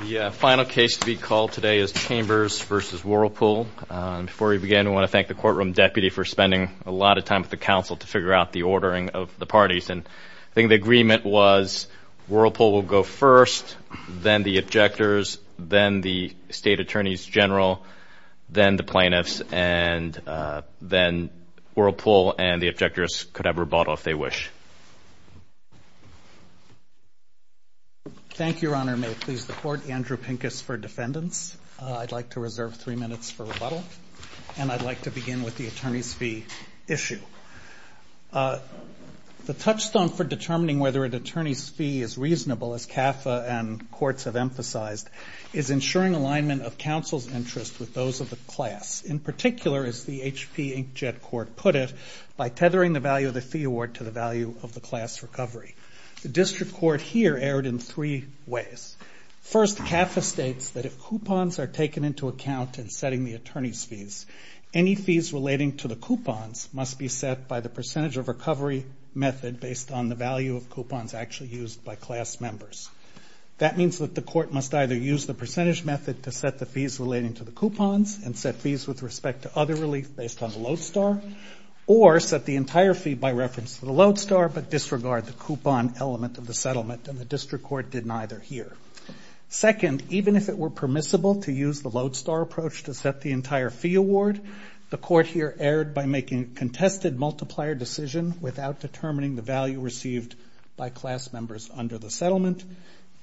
The final case to be called today is Chambers v. Whirlpool. Before we begin, I want to thank the courtroom deputy for spending a lot of time with the counsel to figure out the ordering of the parties. I think the agreement was Whirlpool will go first, then the objectors, then the state attorneys general, then the plaintiffs, and then Whirlpool and the objectors could have rebuttal if they wish. Thank you, Your Honor. May it please the Court. Andrew Pincus for defendants. I'd like to reserve three minutes for rebuttal, and I'd like to begin with the attorney's fee issue. The touchstone for determining whether an attorney's fee is reasonable, as CAFA and courts have emphasized, is ensuring alignment of counsel's interest with those of the class. In particular, as the HP Inkjet Court put it, by tethering the value of the fee award to the value of the class recovery. The district court here erred in three ways. First, CAFA states that if coupons are taken into account in setting the attorney's fees, any fees relating to the coupons must be set by the percentage of recovery method based on the value of coupons actually used by class members. That means that the court must either use the percentage method to set the fees relating to the coupons and set fees with respect to other relief based on the Lodestar, or set the entire fee by reference to the Lodestar but disregard the coupon element of the settlement, and the district court did neither here. Second, even if it were permissible to use the Lodestar approach to set the entire fee award, the court here erred by making a contested multiplier decision without determining the value received by class members under the settlement.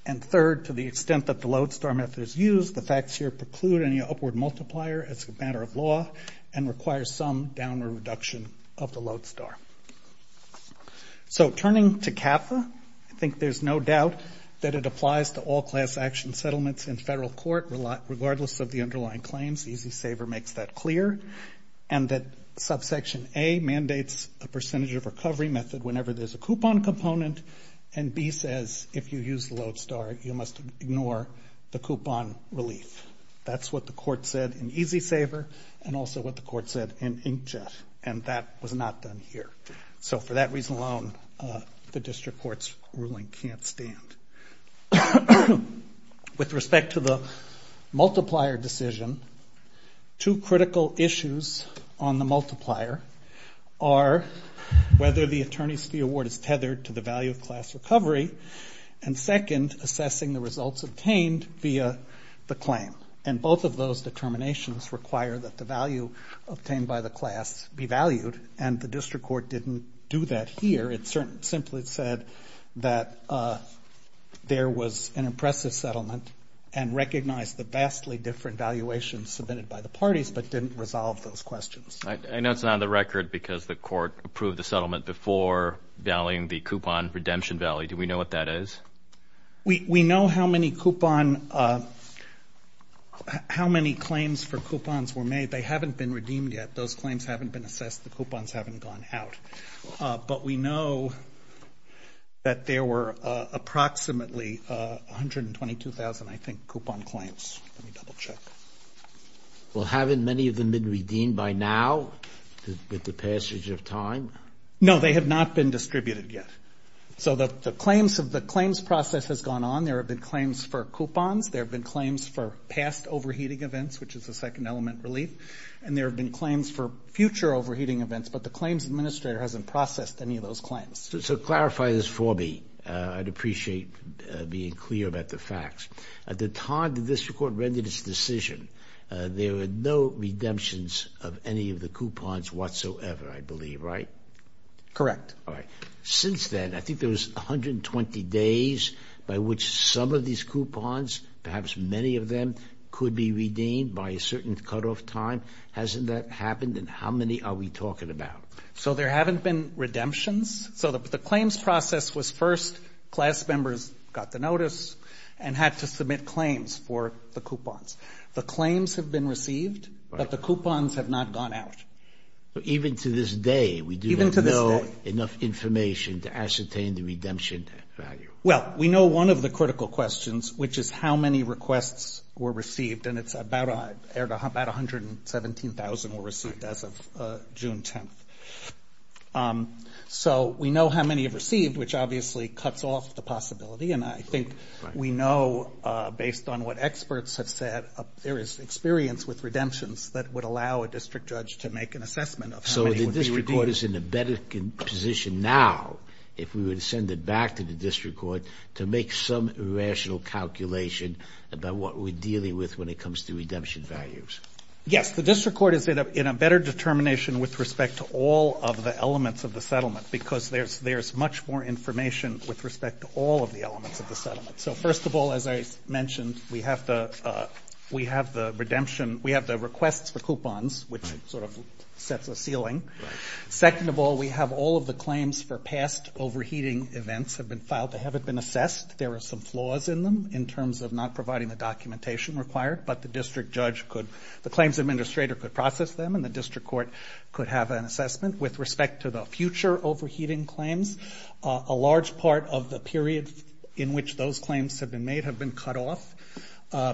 And third, to the extent that the Lodestar method is used, the facts here preclude any upward multiplier as a matter of law and require some downward reduction of the Lodestar. So turning to CAFA, I think there's no doubt that it applies to all class action settlements in federal court, regardless of the underlying claims. EZ Saver makes that clear. And that subsection A mandates a percentage of recovery method whenever there's a coupon component, and B says if you use the Lodestar, you must ignore the coupon relief. That's what the court said in EZ Saver and also what the court said in Inkjet, and that was not done here. So for that reason alone, the district court's ruling can't stand. With respect to the multiplier decision, two critical issues on the multiplier are whether the attorney's fee award is tethered to the value of class recovery, and second, assessing the results obtained via the claim. And both of those determinations require that the value obtained by the class be valued, and the district court didn't do that here. It simply said that there was an impressive settlement and recognized the vastly different valuations submitted by the parties but didn't resolve those questions. I know it's not on the record because the court approved the settlement before valuing the coupon redemption value. Do we know what that is? We know how many claims for coupons were made. They haven't been redeemed yet. Those claims haven't been assessed. The coupons haven't gone out. But we know that there were approximately 122,000, I think, coupon claims. Let me double check. Well, haven't many of them been redeemed by now with the passage of time? No, they have not been distributed yet. So the claims process has gone on. There have been claims for coupons. There have been claims for past overheating events, which is a second element relief. And there have been claims for future overheating events, but the claims administrator hasn't processed any of those claims. So clarify this for me. I'd appreciate being clear about the facts. At the time the district court rendered its decision, there were no redemptions of any of the coupons whatsoever, I believe, right? Correct. All right. Since then, I think there was 120 days by which some of these coupons, perhaps many of them, could be redeemed by a certain cutoff time. Hasn't that happened? And how many are we talking about? So there haven't been redemptions. So the claims process was first. Class members got the notice and had to submit claims for the coupons. The claims have been received, but the coupons have not gone out. Even to this day, we do not know enough information to ascertain the redemption value. Well, we know one of the critical questions, which is how many requests were received, and it's about 117,000 were received as of June 10th. So we know how many have received, which obviously cuts off the possibility, and I think we know, based on what experts have said, there is experience with redemptions that would allow a district judge to make an assessment of how many would be redeemed. So the district court is in a better position now, if we were to send it back to the district court, to make some rational calculation about what we're dealing with when it comes to redemption values. Yes. The district court is in a better determination with respect to all of the elements of the settlement, because there's much more information with respect to all of the elements of the settlement. So first of all, as I mentioned, we have the redemption. We have the requests for coupons, which sort of sets a ceiling. Second of all, we have all of the claims for past overheating events have been filed. They haven't been assessed. There are some flaws in them in terms of not providing the documentation required, but the district judge could, the claims administrator could process them, and the district court could have an assessment. With respect to the future overheating claims, a large part of the period in which those claims have been made have been cut off,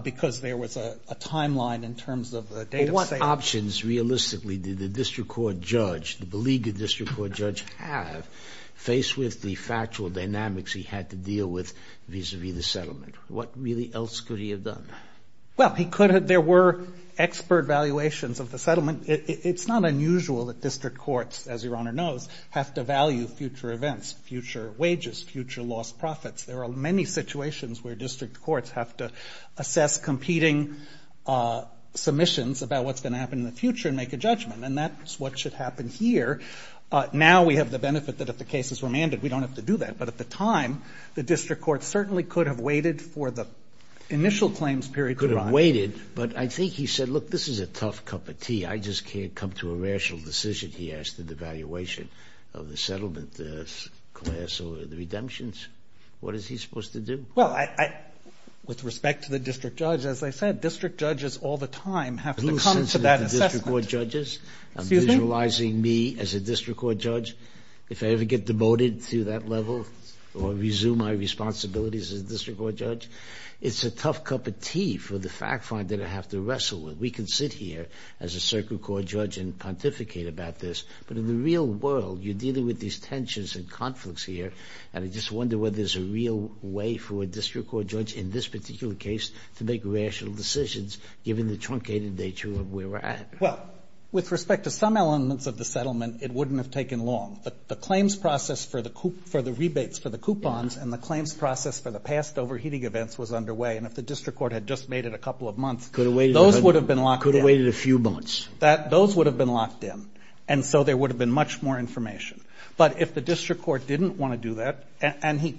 because there was a timeline in terms of the date of sale. Well, what options, realistically, did the district court judge, the beleaguered district court judge have, faced with the factual dynamics he had to deal with vis-à-vis the settlement? What really else could he have done? Well, he could have, there were expert valuations of the settlement. It's not unusual that district courts, as Your Honor knows, have to value future events, future wages, future lost profits. There are many situations where district courts have to assess competing submissions about what's going to happen in the future and make a judgment, and that's what should happen here. Now we have the benefit that if the cases were mandated, we don't have to do that. But at the time, the district court certainly could have waited for the initial claims period to arrive. Could have waited, but I think he said, look, this is a tough cup of tea. I just can't come to a rational decision, he asked, in the valuation of the settlement, the class, or the redemptions. What is he supposed to do? Well, with respect to the district judge, as I said, district judges all the time have to come to that assessment. Who is censoring the district court judges? I'm visualizing me as a district court judge. If I ever get demoted to that level or resume my responsibilities as a district court judge, it's a tough cup of tea for the fact finder to have to wrestle with. We can sit here as a circuit court judge and pontificate about this, but in the real world, you're dealing with these tensions and conflicts here, and I just wonder whether there's a real way for a district court judge, in this particular case, to make rational decisions, given the truncated nature of where we're at. Well, with respect to some elements of the settlement, it wouldn't have taken long. The claims process for the rebates, for the coupons, and the claims process for the past overheating events was underway, and if the district court had just made it a couple of months, those would have been locked in. Could have waited a few months. Those would have been locked in, and so there would have been much more information. But if the district court didn't want to do that, and he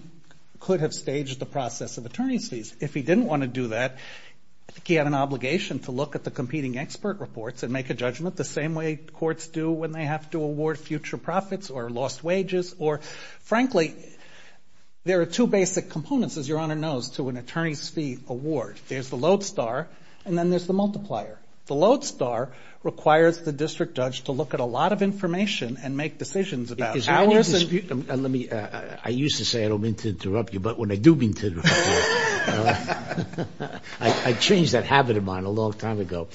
could have staged the process of attorney's fees, if he didn't want to do that, I think he had an obligation to look at the competing expert reports and make a judgment, the same way courts do when they have to award future profits or lost wages, or frankly, there are two basic components, as Your Honor knows, to an attorney's fee award. There's the load star, and then there's the multiplier. The load star requires the district judge to look at a lot of information and make decisions about hours. I used to say I don't mean to interrupt you, but when I do mean to interrupt you, I changed that habit of mine a long time ago.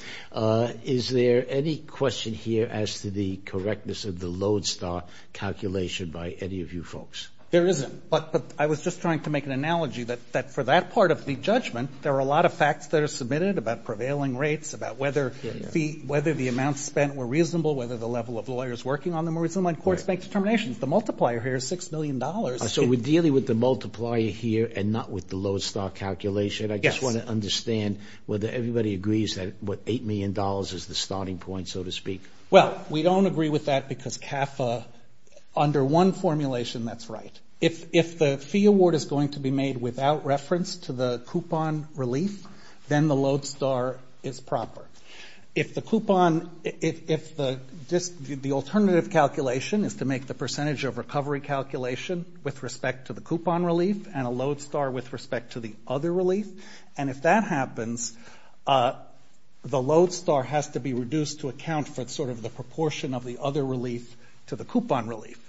Is there any question here as to the correctness of the load star calculation by any of you folks? There isn't. But I was just trying to make an analogy that for that part of the judgment, there are a lot of facts that are submitted about prevailing rates, about whether the amounts spent were reasonable, whether the level of lawyers working on them were reasonable, and courts make determinations. The multiplier here is $6 million. So we're dealing with the multiplier here and not with the load star calculation? Yes. I just want to understand whether everybody agrees that $8 million is the starting point, so to speak. Well, we don't agree with that because under one formulation that's right. If the fee award is going to be made without reference to the coupon relief, then the load star is proper. If the coupon ‑‑ if the alternative calculation is to make the percentage of recovery calculation with respect to the coupon relief and a load star with respect to the other relief, and if that happens, the load star has to be reduced to account for sort of the proportion of the other relief to the coupon relief.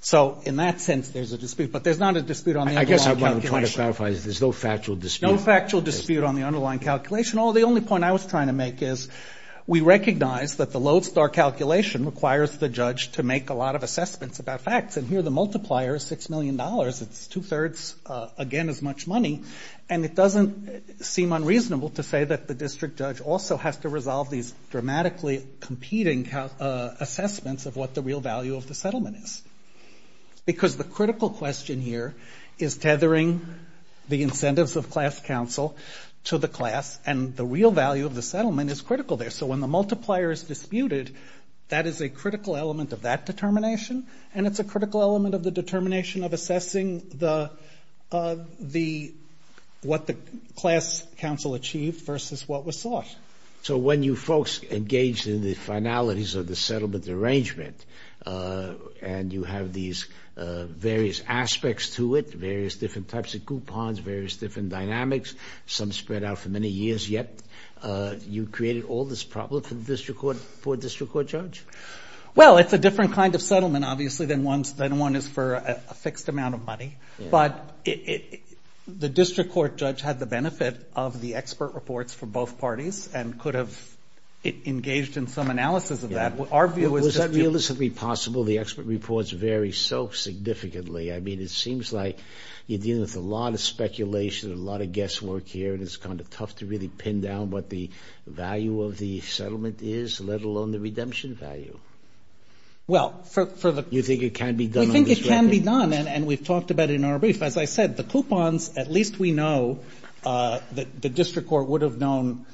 So in that sense, there's a dispute. But there's not a dispute on the underlying calculation. I guess what I'm trying to clarify is there's no factual dispute. No factual dispute on the underlying calculation. The only point I was trying to make is we recognize that the load star calculation requires the judge to make a lot of assessments about facts. And here the multiplier is $6 million. It's two-thirds, again, as much money. And it doesn't seem unreasonable to say that the district judge also has to resolve these dramatically competing assessments of what the real value of the settlement is. Because the critical question here is tethering the incentives of class counsel to the class, and the real value of the settlement is critical there. So when the multiplier is disputed, that is a critical element of that determination, and it's a critical element of the determination of assessing the ‑‑ what the class counsel achieved versus what was sought. So when you folks engaged in the finalities of the settlement arrangement, and you have these various aspects to it, various different types of coupons, various different dynamics, some spread out for many years yet, you created all this problem for the district court judge? Well, it's a different kind of settlement, obviously, than one is for a fixed amount of money. But the district court judge had the benefit of the expert reports for both parties and could have engaged in some analysis of that. Our view is just ‑‑ Was that realistically possible? The expert reports vary so significantly. I mean, it seems like you're dealing with a lot of speculation, a lot of guesswork here, and it's kind of tough to really pin down what the value of the settlement is, let alone the redemption value. Well, for the ‑‑ You think it can be done on this record? I think it can be done, and we've talked about it in our brief. As I said, the coupons, at least we know, the district court would have known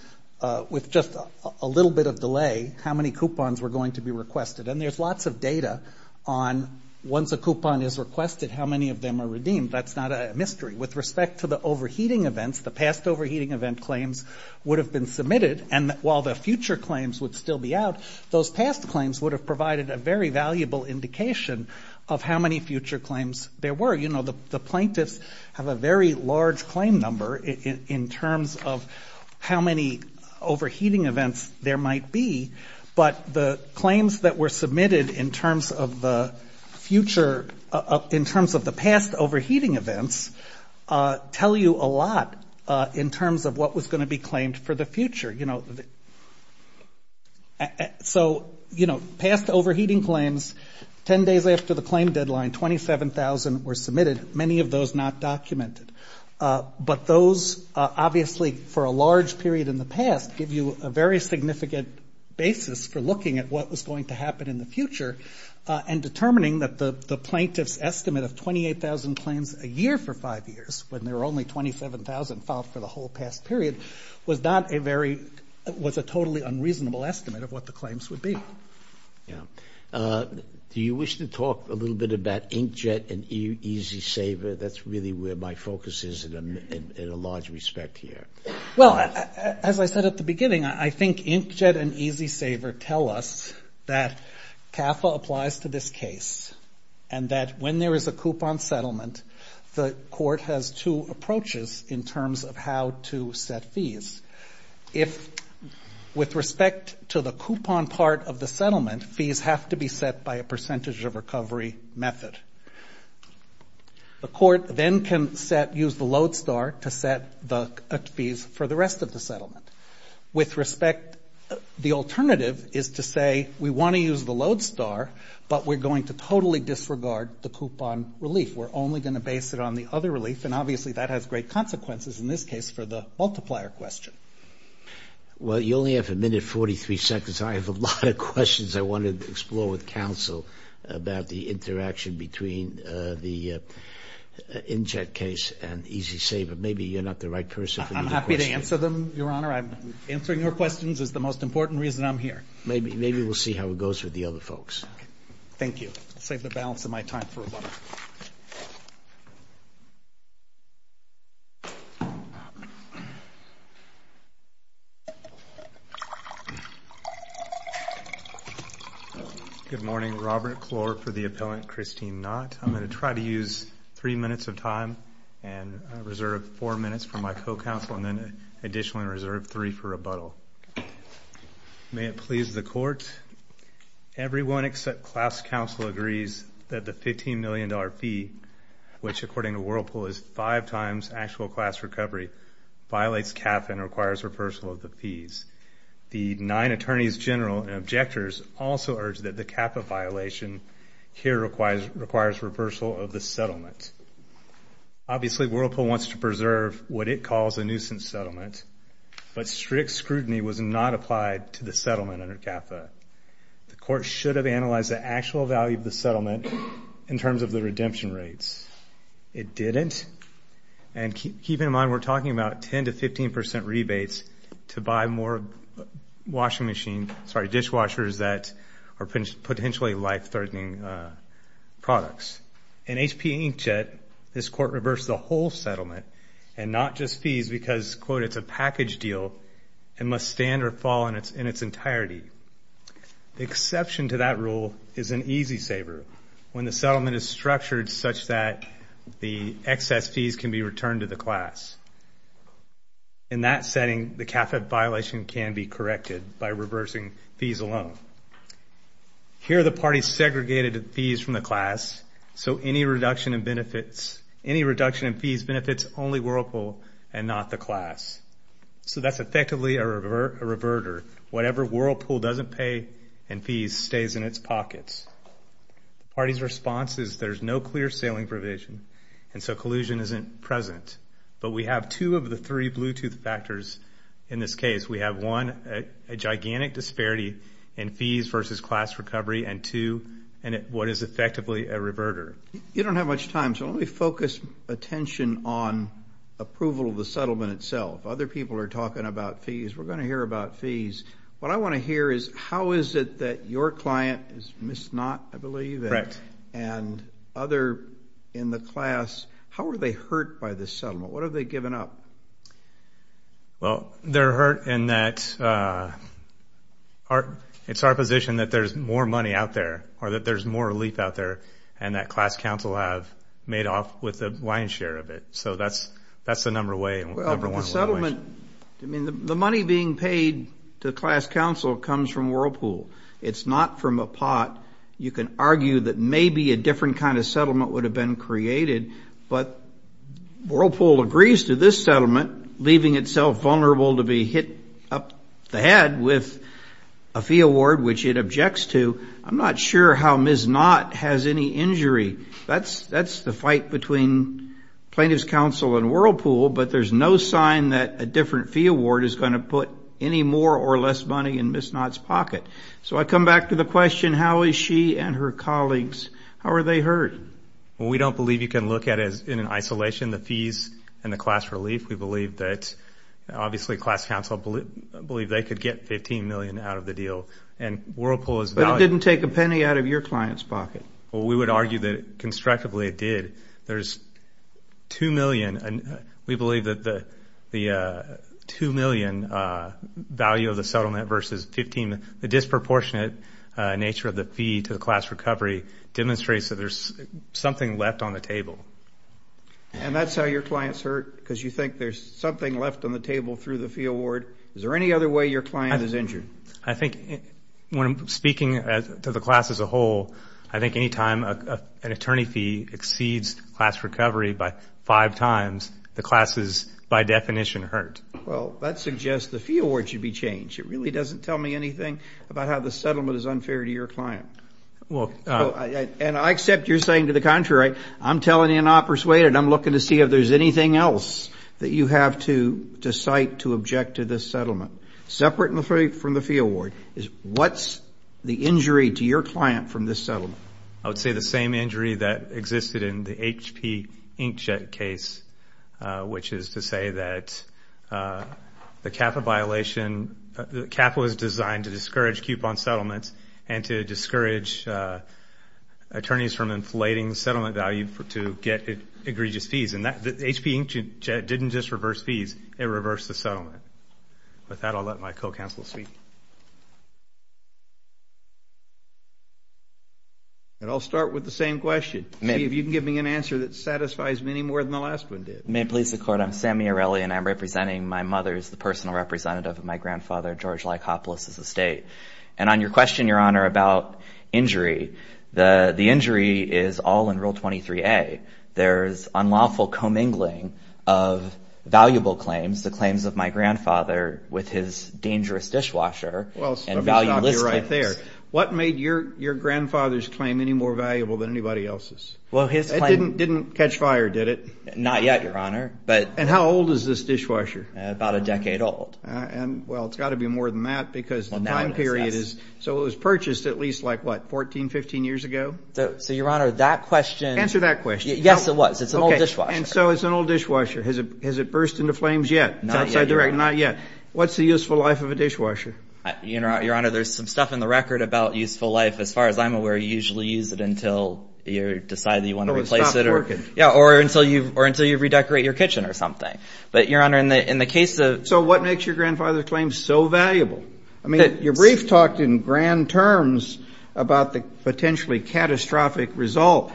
with just a little bit of delay how many coupons were going to be requested. And there's lots of data on once a coupon is requested, how many of them are redeemed. That's not a mystery. With respect to the overheating events, the past overheating event claims would have been submitted, and while the future claims would still be out, those past claims would have provided a very valuable indication of how many future claims there were. You know, the plaintiffs have a very large claim number in terms of how many overheating events there might be, but the claims that were submitted in terms of the future, in terms of the past overheating events, tell you a lot in terms of what was going to be claimed for the future. So, you know, past overheating claims, 10 days after the claim deadline, 27,000 were submitted, many of those not documented. But those, obviously, for a large period in the past, give you a very significant basis for looking at what was going to happen in the future and determining that the plaintiff's estimate of 28,000 claims a year for five years, when there were only 27,000 filed for the whole past period, was a totally unreasonable estimate of what the claims would be. Yeah. Do you wish to talk a little bit about Inkjet and EasySaver? That's really where my focus is in a large respect here. Well, as I said at the beginning, I think Inkjet and EasySaver tell us that CAFA applies to this case and that when there is a coupon settlement, the court has two approaches in terms of how to set fees. If, with respect to the coupon part of the settlement, fees have to be set by a percentage of recovery method. The court then can use the load star to set the fees for the rest of the settlement. With respect, the alternative is to say, we want to use the load star, but we're going to totally disregard the coupon relief. We're only going to base it on the other relief, and obviously that has great consequences in this case for the multiplier question. Well, you only have a minute and 43 seconds. I have a lot of questions I want to explore with counsel about the interaction between the Inkjet case and EasySaver. Maybe you're not the right person for the other questions. I'm happy to answer them, Your Honor. Answering your questions is the most important reason I'm here. Maybe we'll see how it goes with the other folks. Thank you. I'll save the balance of my time for rebuttal. Good morning. Robert Clore for the appellant, Christine Knott. I'm going to try to use three minutes of time and reserve four minutes for my co-counsel and then additionally reserve three for rebuttal. May it please the court, everyone except class counsel agrees that the $15 million fee, which according to Whirlpool is five times actual class recovery, violates CAFA and requires reversal of the fees. The nine attorneys general and objectors also urge that the CAFA violation here requires reversal of the settlement. Obviously Whirlpool wants to preserve what it calls a nuisance settlement, but strict scrutiny was not applied to the settlement under CAFA. The court should have analyzed the actual value of the settlement in terms of the redemption rates. It didn't, and keep in mind we're talking about 10% to 15% rebates to buy more dishwashers that are potentially life-threatening products. In HP Inkjet, this court reversed the whole settlement and not just fees because, quote, it's a package deal and must stand or fall in its entirety. The exception to that rule is an easy saver when the settlement is structured such that the excess fees can be returned to the class. In that setting, the CAFA violation can be corrected by reversing fees alone. Here the party segregated the fees from the class, so any reduction in fees benefits only Whirlpool and not the class. So that's effectively a reverter. Whatever Whirlpool doesn't pay in fees stays in its pockets. The party's response is there's no clear sailing provision, and so collusion isn't present. But we have two of the three Bluetooth factors in this case. We have one, a gigantic disparity in fees versus class recovery, and two, what is effectively a reverter. You don't have much time, so let me focus attention on approval of the settlement itself. Other people are talking about fees. We're going to hear about fees. What I want to hear is how is it that your client is Ms. Knott, I believe. Correct. And other in the class, how are they hurt by this settlement? What have they given up? Well, they're hurt in that it's our position that there's more money out there or that there's more relief out there and that class counsel have made off with a lion's share of it. So that's the number one way. The money being paid to class counsel comes from Whirlpool. It's not from a pot. You can argue that maybe a different kind of settlement would have been created, but Whirlpool agrees to this settlement, leaving itself vulnerable to be hit up the head with a fee award, which it objects to. I'm not sure how Ms. Knott has any injury. That's the fight between plaintiff's counsel and Whirlpool, but there's no sign that a different fee award is going to put any more or less money in Ms. Knott's pocket. So I come back to the question, how is she and her colleagues, how are they hurt? Well, we don't believe you can look at it in isolation, the fees and the class relief. We believe that obviously class counsel believe they could get 15 million out of the deal. And Whirlpool is valued. But it didn't take a penny out of your client's pocket. Well, we would argue that constructively it did. There's 2 million. We believe that the 2 million value of the settlement versus 15, the disproportionate nature of the fee to the class recovery demonstrates that there's something left on the table. And that's how your clients hurt? Because you think there's something left on the table through the fee award? Is there any other way your client is injured? I think when speaking to the class as a whole, I think any time an attorney fee exceeds class recovery by five times, the class is by definition hurt. Well, that suggests the fee award should be changed. It really doesn't tell me anything about how the settlement is unfair to your client. And I accept you're saying to the contrary. I'm telling you I'm not persuaded. I'm looking to see if there's anything else that you have to cite to object to this settlement. Separate from the fee award, what's the injury to your client from this settlement? I would say the same injury that existed in the HP inkjet case, which is to say that the CAFA violation, the CAFA was designed to discourage coupon settlements and to discourage attorneys from inflating settlement value to get egregious fees. And the HP inkjet didn't just reverse fees, it reversed the settlement. With that, I'll let my co-counsel speak. And I'll start with the same question. See if you can give me an answer that satisfies me any more than the last one did. May it please the Court. I'm Sammy Arelli, and I'm representing my mother as the personal representative of my grandfather, George Lycopolis, as a state. And on your question, Your Honor, about injury, the injury is all in Rule 23A. There's unlawful commingling of valuable claims, the claims of my grandfather, with his dangerous dishwasher and valueless claims. Well, let me stop you right there. What made your grandfather's claim any more valuable than anybody else's? It didn't catch fire, did it? Not yet, Your Honor. And how old is this dishwasher? About a decade old. Well, it's got to be more than that because the time period is so it was purchased at least like what, 14, 15 years ago? So, Your Honor, that question. Answer that question. Yes, it was. It's an old dishwasher. And so it's an old dishwasher. Has it burst into flames yet? Not yet, Your Honor. Not yet. What's the useful life of a dishwasher? Your Honor, there's some stuff in the record about useful life. As far as I'm aware, you usually use it until you decide that you want to replace it. Yeah, or until you redecorate your kitchen or something. But, Your Honor, in the case of So what makes your grandfather's claim so valuable? I mean, your brief talked in grand terms about the potentially catastrophic result.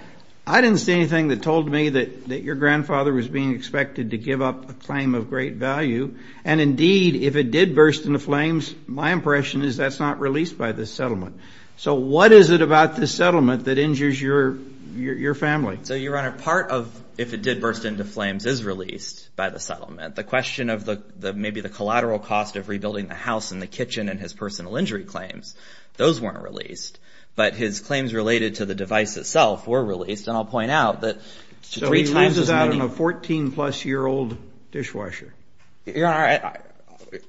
I didn't see anything that told me that your grandfather was being expected to give up a claim of great value. And, indeed, if it did burst into flames, my impression is that's not released by this settlement. So what is it about this settlement that injures your family? So, Your Honor, part of if it did burst into flames is released by the settlement. The question of maybe the collateral cost of rebuilding the house and the kitchen and his personal injury claims, those weren't released. But his claims related to the device itself were released. And I'll point out that three times as many So he loses out on a 14-plus-year-old dishwasher. Your Honor,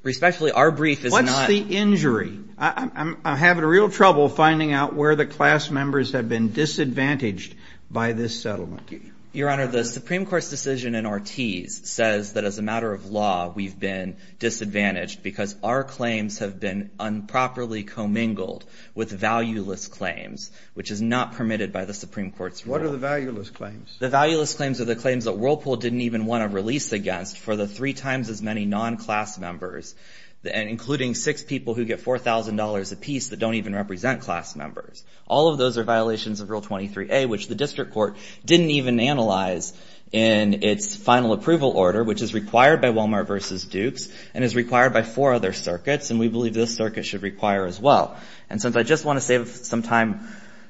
respectfully, our brief is not What's the injury? I'm having real trouble finding out where the class members have been disadvantaged by this settlement. Your Honor, the Supreme Court's decision in Ortiz says that, as a matter of law, we've been disadvantaged because our claims have been improperly commingled with valueless claims, which is not permitted by the Supreme Court's rule. What are the valueless claims? The valueless claims are the claims that Whirlpool didn't even want to release against for the three times as many non-class members, including six people who get $4,000 apiece that don't even represent class members. All of those are violations of Rule 23A, which the district court didn't even analyze in its final approval order, which is required by Walmart v. Dukes and is required by four other circuits. And we believe this circuit should require as well. And since I just want to save some time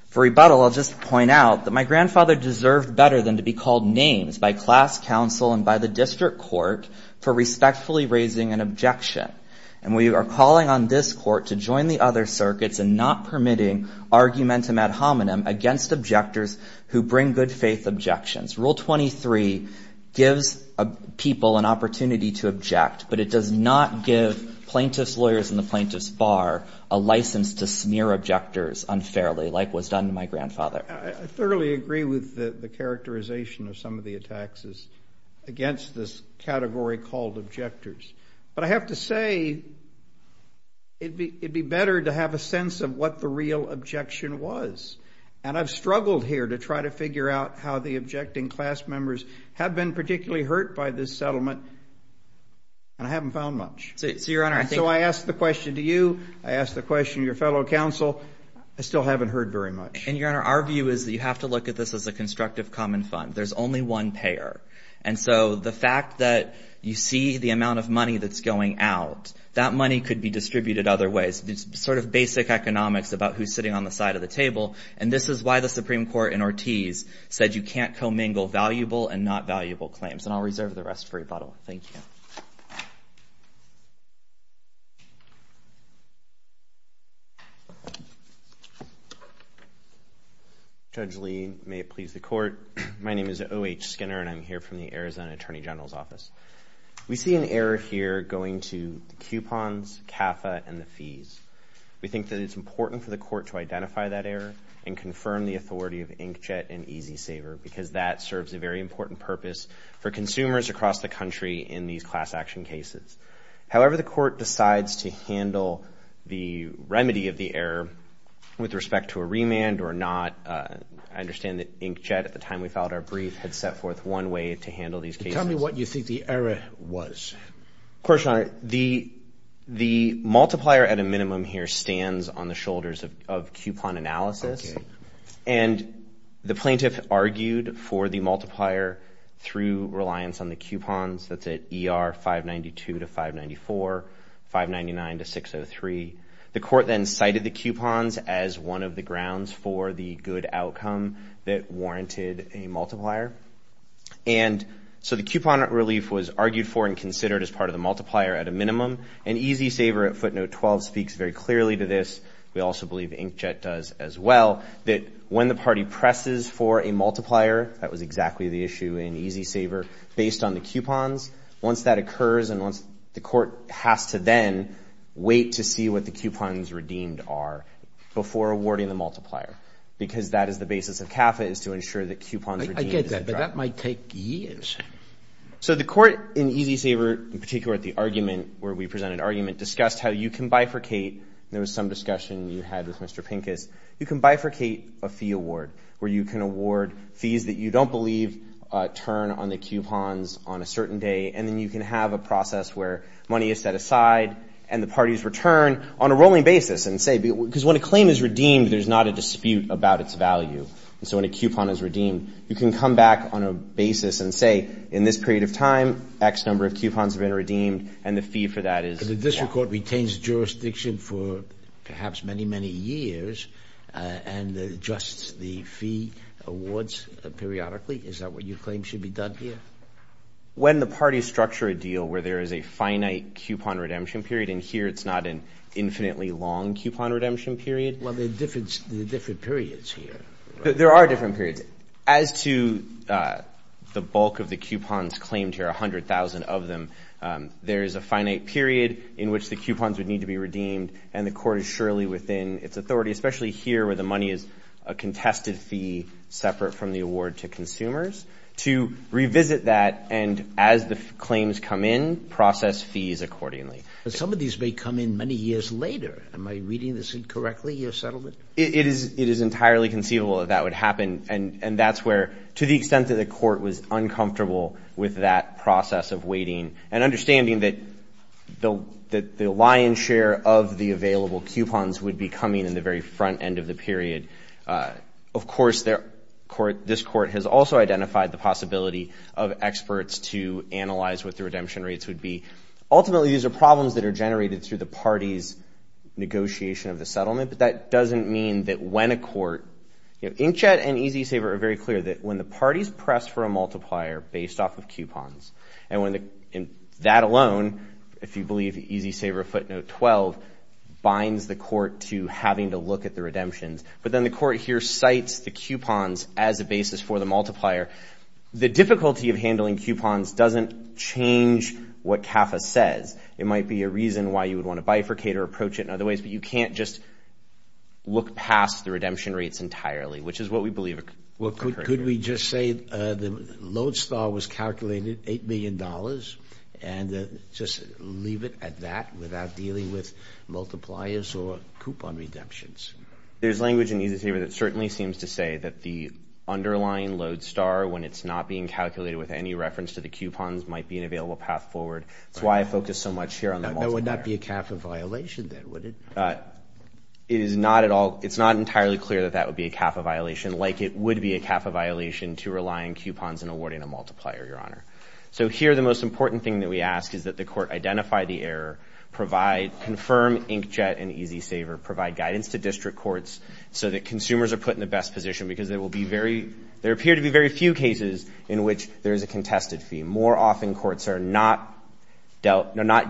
for rebuttal, I'll just point out that my grandfather deserved better than to be called names by class counsel and by the district court for respectfully raising an objection. And we are calling on this court to join the other circuits and not permitting argumentum ad hominem against objectors who bring good-faith objections. Rule 23 gives people an opportunity to object, but it does not give plaintiff's lawyers and the plaintiff's bar a license to smear objectors unfairly, like was done to my grandfather. I thoroughly agree with the characterization of some of the attacks against this category called objectors. But I have to say it would be better to have a sense of what the real objection was. And I've struggled here to try to figure out how the objecting class members have been particularly hurt by this settlement, and I haven't found much. So, Your Honor, I think— So I ask the question to you. I ask the question to your fellow counsel. I still haven't heard very much. And, Your Honor, our view is that you have to look at this as a constructive common fund. There's only one payer. And so the fact that you see the amount of money that's going out, that money could be distributed other ways. It's sort of basic economics about who's sitting on the side of the table, and this is why the Supreme Court in Ortiz said you can't commingle valuable and not valuable claims. And I'll reserve the rest for rebuttal. Thank you. Judge Lee, may it please the Court. My name is O.H. Skinner, and I'm here from the Arizona Attorney General's Office. We see an error here going to coupons, CAFA, and the fees. We think that it's important for the Court to identify that error and confirm the authority of Inkjet and E-Z Saver because that serves a very important purpose for consumers across the country in these class action cases. However, the Court decides to handle the remedy of the error with respect to a remand or not. I understand that Inkjet, at the time we filed our brief, had set forth one way to handle these cases. Tell me what you think the error was. Of course, Your Honor. The multiplier at a minimum here stands on the shoulders of coupon analysis. Okay. And the plaintiff argued for the multiplier through reliance on the coupons. That's at ER 592 to 594, 599 to 603. The Court then cited the coupons as one of the grounds for the good outcome that warranted a multiplier. And so the coupon relief was argued for and considered as part of the multiplier at a minimum, and E-Z Saver at footnote 12 speaks very clearly to this. We also believe Inkjet does as well, that when the party presses for a multiplier, that was exactly the issue in E-Z Saver, based on the coupons, once that occurs and once the Court has to then wait to see what the coupons redeemed are before awarding the multiplier, because that is the basis of CAFA is to ensure that coupons redeemed. I get that, but that might take years. So the Court in E-Z Saver, in particular at the argument where we presented argument, discussed how you can bifurcate, and there was some discussion you had with Mr. Pincus, you can bifurcate a fee award where you can award fees that you don't believe turn on the coupons on a certain day, and then you can have a process where money is set aside and the parties return on a rolling basis and say, because when a claim is redeemed, there's not a dispute about its value. And so when a coupon is redeemed, you can come back on a basis and say, in this period of time, X number of coupons have been redeemed, and the fee for that is. So the district court retains jurisdiction for perhaps many, many years and adjusts the fee awards periodically? Is that what you claim should be done here? When the parties structure a deal where there is a finite coupon redemption period, and here it's not an infinitely long coupon redemption period. Well, there are different periods here. There are different periods. As to the bulk of the coupons claimed here, 100,000 of them, there is a finite period in which the coupons would need to be redeemed, and the court is surely within its authority, especially here where the money is a contested fee separate from the award to consumers, to revisit that, and as the claims come in, process fees accordingly. Some of these may come in many years later. Am I reading this incorrectly, your settlement? It is entirely conceivable that that would happen, and that's where, to the extent that the court was uncomfortable with that process of waiting and understanding that the lion's share of the available coupons would be coming in the very front end of the period. Of course, this court has also identified the possibility of experts to analyze what the redemption rates would be. Ultimately, these are problems that are generated through the parties' negotiation of the settlement, but that doesn't mean that when a court, you know, Inchette and E-Z Saver are very clear that when the parties press for a multiplier based off of coupons, and that alone, if you believe E-Z Saver footnote 12, binds the court to having to look at the redemptions, but then the court here cites the coupons as a basis for the multiplier. The difficulty of handling coupons doesn't change what CAFA says. It might be a reason why you would want to bifurcate or approach it in other ways, but you can't just look past the redemption rates entirely, which is what we believe occurred here. Well, could we just say the load star was calculated, $8 million, and just leave it at that without dealing with multipliers or coupon redemptions? There's language in E-Z Saver that certainly seems to say that the underlying load star, when it's not being calculated with any reference to the coupons, might be an available path forward. That's why I focus so much here on the multiplier. That would not be a CAFA violation, then, would it? It is not at all. It's not entirely clear that that would be a CAFA violation, like it would be a CAFA violation to rely on coupons in awarding a multiplier, Your Honor. So here, the most important thing that we ask is that the court identify the error, provide, confirm Inchette and E-Z Saver, provide guidance to district courts so that consumers are put in the best position because there will be very, there appear to be very few cases in which there is a contested fee. More often, courts are not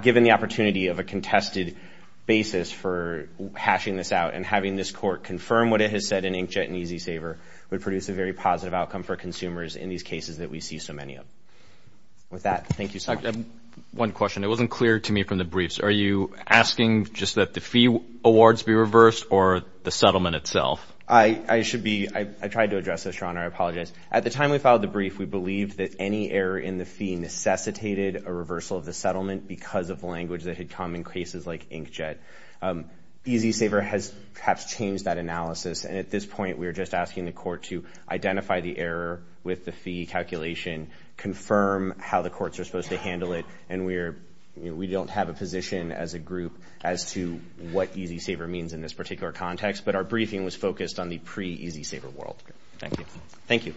given the opportunity of a contested basis for hashing this out, and having this court confirm what it has said in Inchette and E-Z Saver would produce a very positive outcome for consumers in these cases that we see so many of. With that, thank you, sir. One question. It wasn't clear to me from the briefs. Are you asking just that the fee awards be reversed or the settlement itself? I should be. I tried to address this, Your Honor. I apologize. At the time we filed the brief, we believed that any error in the fee necessitated a reversal of the settlement because of language that had come in cases like Inchette. E-Z Saver has perhaps changed that analysis, and at this point we are just asking the court to identify the error with the fee calculation, confirm how the courts are supposed to handle it, and we don't have a position as a group as to what E-Z Saver means in this particular context, but our briefing was focused on the pre-E-Z Saver world. Thank you. Thank you.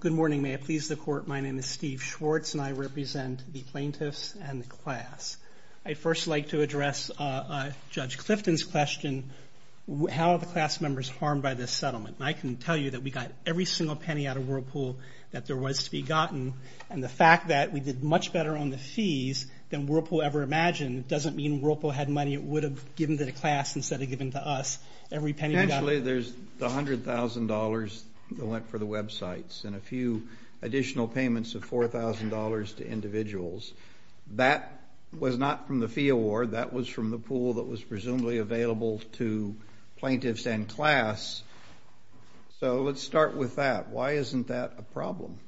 Good morning. May it please the Court, my name is Steve Schwartz, and I represent the plaintiffs and the class. I'd first like to address Judge Clifton's question, how are the class members harmed by this settlement? And I can tell you that we got every single penny out of Whirlpool that there was to be gotten, and the fact that we did much better on the fees than Whirlpool ever imagined, it doesn't mean Whirlpool had money it would have given to the class instead of given to us. Every penny we got. Potentially there's $100,000 that went for the websites and a few additional payments of $4,000 to individuals. That was not from the fee award, that was from the pool that was presumably available to plaintiffs and class. So let's start with that. Why isn't that a problem?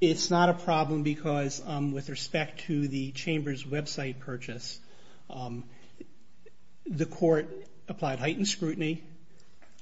It's not a problem because with respect to the Chambers website purchase, the Court applied heightened scrutiny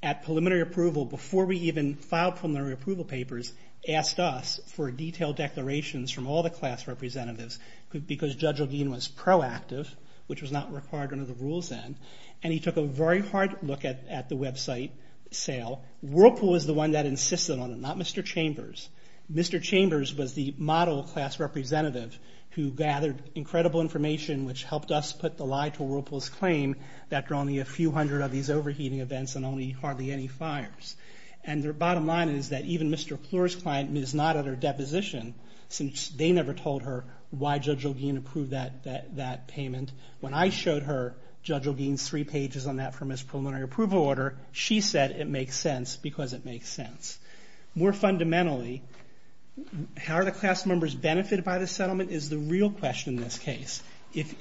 at preliminary approval, before we even filed preliminary approval papers, asked us for detailed declarations from all the class representatives, because Judge Ledeen was proactive, which was not required under the rules then, and he took a very hard look at the website sale. Whirlpool was the one that insisted on it, not Mr. Chambers. Mr. Chambers was the model class representative who gathered incredible information, which helped us put the lie to Whirlpool's claim that there are only a few hundred of these overheating events and hardly any fires. And their bottom line is that even Mr. Fleur's client is not at her deposition, since they never told her why Judge Ledeen approved that payment. When I showed her Judge Ledeen's three pages on that from his preliminary approval order, she said it makes sense because it makes sense. More fundamentally, how are the class members benefited by the settlement is the real question in this case.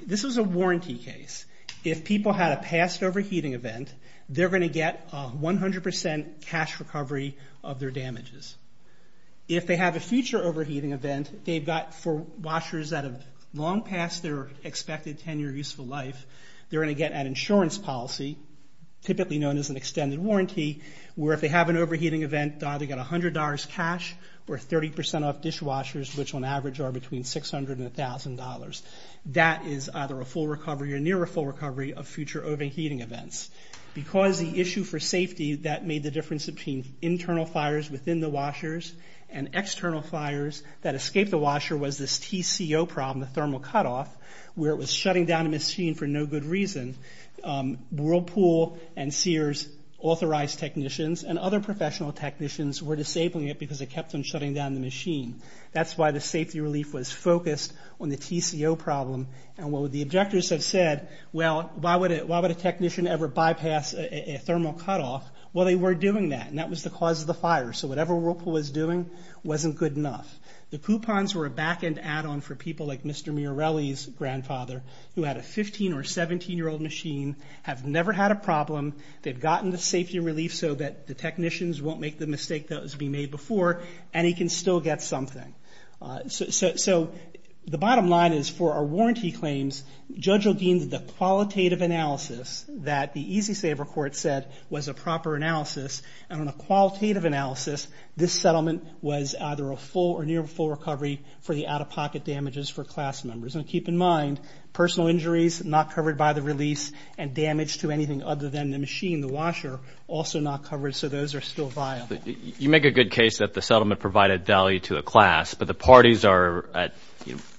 This is a warranty case. If people had a past overheating event, they're going to get 100% cash recovery of their damages. If they have a future overheating event, they've got for washers that have long passed their expected 10-year useful life, they're going to get an insurance policy, typically known as an extended warranty, where if they have an overheating event, they either get $100 cash or 30% off dishwashers, which on average are between $600 and $1,000. That is either a full recovery or near a full recovery of future overheating events. Because the issue for safety that made the difference between internal fires within the washers and external fires that escaped the washer was this TCO problem, the thermal cutoff, where it was shutting down a machine for no good reason, Whirlpool and Sears authorized technicians, and other professional technicians were disabling it because it kept on shutting down the machine. That's why the safety relief was focused on the TCO problem. And what the objectors have said, well, why would a technician ever bypass a thermal cutoff? Well, they were doing that, and that was the cause of the fire. So whatever Whirlpool was doing wasn't good enough. The coupons were a back-end add-on for people like Mr. Mirrelli's grandfather, who had a 15- or 17-year-old machine, have never had a problem, they've gotten the safety relief so that the technicians won't make the mistake that was being made before, and he can still get something. So the bottom line is for our warranty claims, Judge O'Gean, the qualitative analysis that the EZ-Saver court said was a proper analysis, and on a qualitative analysis, this settlement was either a full or near full recovery for the out-of-pocket damages for class members. And keep in mind, personal injuries not covered by the release and damage to anything other than the machine, the washer, also not covered, so those are still viable. You make a good case that the settlement provided value to a class, but the parties are at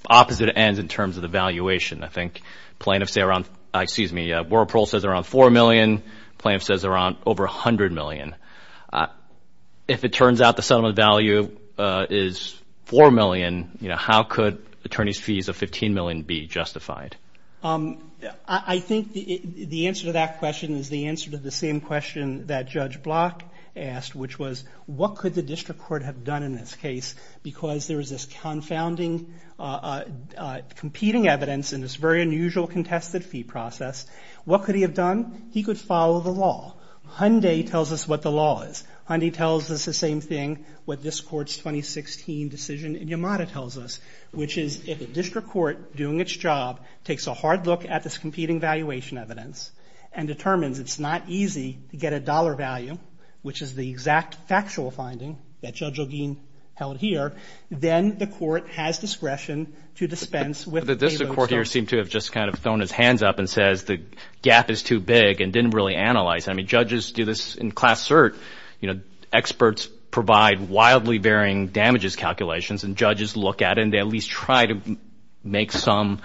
opposite ends in terms of the valuation. I think plaintiffs say around, excuse me, Whirlpool says around $4 million, plaintiffs say around over $100 million. If it turns out the settlement value is $4 million, then how could attorneys' fees of $15 million be justified? I think the answer to that question is the answer to the same question that Judge Block asked, which was what could the district court have done in this case because there is this confounding competing evidence in this very unusual contested fee process. What could he have done? He could follow the law. Hyundai tells us what the law is. Hyundai tells us the same thing what this Court's 2016 decision in Yamada tells us, which is if a district court doing its job takes a hard look at this competing valuation evidence and determines it's not easy to get a dollar value, which is the exact factual finding that Judge O'Geen held here, then the court has discretion to dispense with the payloads. But the district court here seemed to have just kind of thrown its hands up and says the gap is too big and didn't really analyze it. I mean, judges do this in class cert. Experts provide wildly varying damages calculations, and judges look at it and they at least try to make some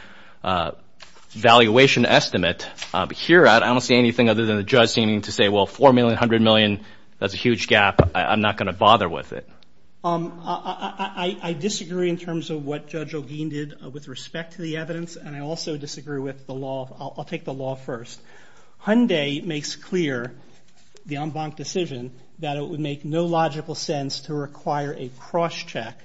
valuation estimate. Here, I don't see anything other than the judge seeming to say, well, $4 million, $100 million, that's a huge gap. I'm not going to bother with it. I disagree in terms of what Judge O'Geen did with respect to the evidence, and I also disagree with the law. I'll take the law first. Hyundai makes clear, the en banc decision, that it would make no logical sense to require a cross-check,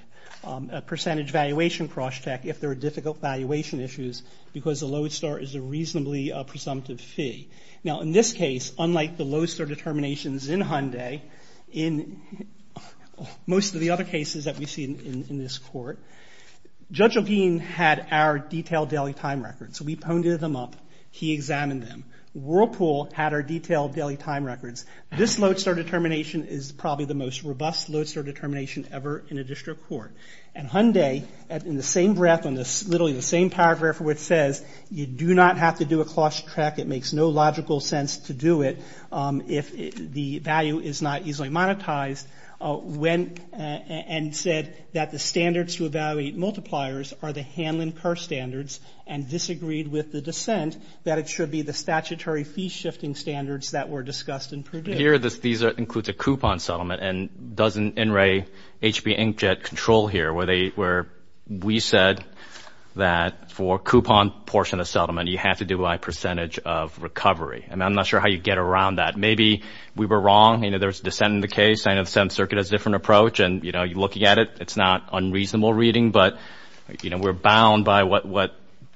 a percentage valuation cross-check if there are difficult valuation issues because the Lodestar is a reasonably presumptive fee. Now, in this case, unlike the Lodestar determinations in Hyundai, in most of the other cases that we've seen in this court, Judge O'Geen had our detailed daily time records. So we poned them up. He examined them. Whirlpool had our detailed daily time records. This Lodestar determination is probably the most robust Lodestar determination ever in a district court. And Hyundai, in the same breath, in literally the same paragraph where it says, you do not have to do a cross-check. It makes no logical sense to do it if the value is not easily monetized, went and said that the standards to evaluate multipliers are the Hanlon-Kerr standards, and disagreed with the dissent that it should be the statutory fee-shifting standards that were discussed in Purdue. Here, these include the coupon settlement, and doesn't NRA, HB Inkjet, control here where we said that for coupon portion of settlement, you have to do by percentage of recovery. I mean, I'm not sure how you get around that. Maybe we were wrong. You know, there's dissent in the case. I know the Seventh Circuit has a different approach, and, you know, looking at it, it's not unreasonable reading, but, you know, we're bound by what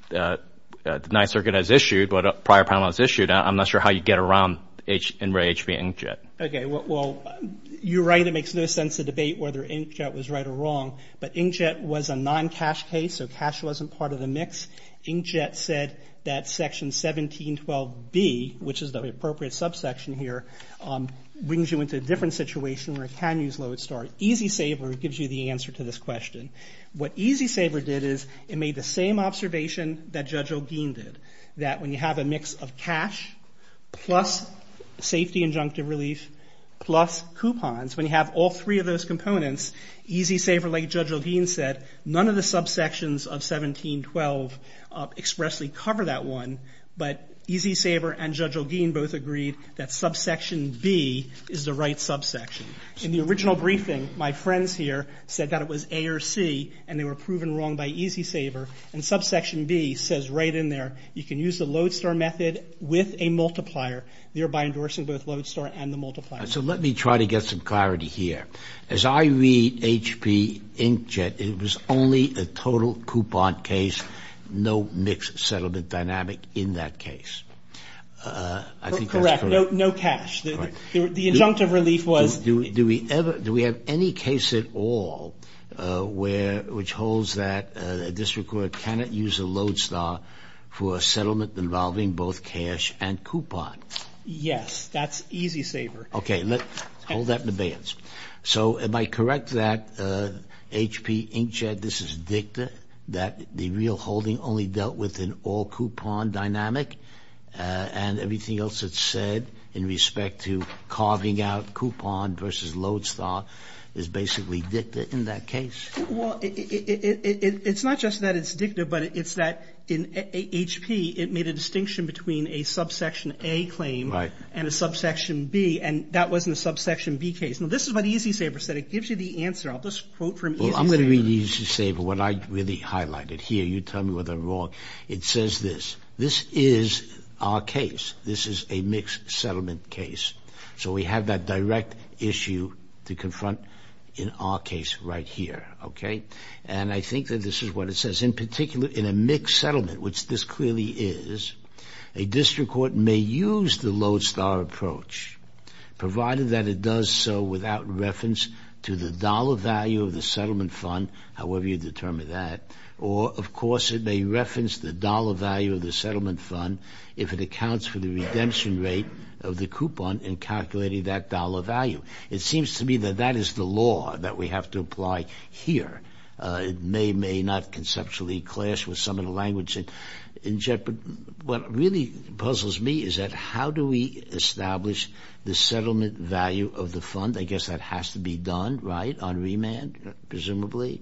the Ninth Circuit has issued, what a prior panelist issued. I'm not sure how you get around NRA, HB, Inkjet. Okay. Well, you're right. It makes no sense to debate whether Inkjet was right or wrong, but Inkjet was a non-cash case, so cash wasn't part of the mix. Inkjet said that Section 1712B, which is the appropriate subsection here, brings you into a different situation where it can use load start. E-Z Saver gives you the answer to this question. What E-Z Saver did is it made the same observation that Judge Olguin did, that when you have a mix of cash plus safety injunctive relief plus coupons, when you have all three of those components, E-Z Saver, like Judge Olguin said, none of the subsections of 1712 expressly cover that one, but E-Z Saver and Judge Olguin both agreed that subsection B is the right subsection. In the original briefing, my friends here said that it was A or C, and they were proven wrong by E-Z Saver, and subsection B says right in there, you can use the load start method with a multiplier, thereby endorsing both load start and the multiplier. So let me try to get some clarity here. As I read HB, Inkjet, it was only a total coupon case, no mixed settlement dynamic in that case. I think that's correct. Correct. No cash. The injunctive relief was. Do we have any case at all which holds that a district court cannot use a load start for a settlement involving both cash and coupon? Yes. That's E-Z Saver. Okay. Hold that in abeyance. So am I correct that HB, Inkjet, this is dicta, that the real holding only dealt with an all coupon dynamic and everything else that's said in respect to carving out coupon versus load start is basically dicta in that case? Well, it's not just that it's dicta, but it's that in HP it made a distinction between a subsection A claim and a subsection B, and that wasn't a subsection B case. Now, this is what E-Z Saver said. It gives you the answer. I'll just quote from E-Z Saver. Well, I'm going to read E-Z Saver, what I really highlighted here. You tell me whether I'm wrong. It says this. This is our case. This is a mixed settlement case. So we have that direct issue to confront in our case right here. Okay. And I think that this is what it says. In particular, in a mixed settlement, which this clearly is, a district court may use the load start approach, provided that it does so without reference to the dollar value of the settlement fund, however you determine that, or, of course, it may reference the dollar value of the settlement fund if it accounts for the redemption rate of the coupon in calculating that dollar value. It seems to me that that is the law that we have to apply here. It may or may not conceptually clash with some of the language in jeopardy. What really puzzles me is that how do we establish the settlement value of the fund? I guess that has to be done, right, on remand, presumably.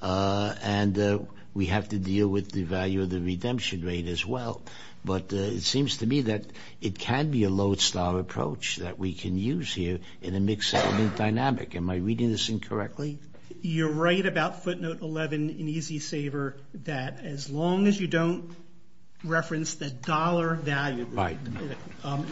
And we have to deal with the value of the redemption rate as well. But it seems to me that it can be a load start approach that we can use here in a mixed settlement dynamic. Am I reading this incorrectly? You're right about footnote 11 in Easy Saver that as long as you don't reference the dollar value,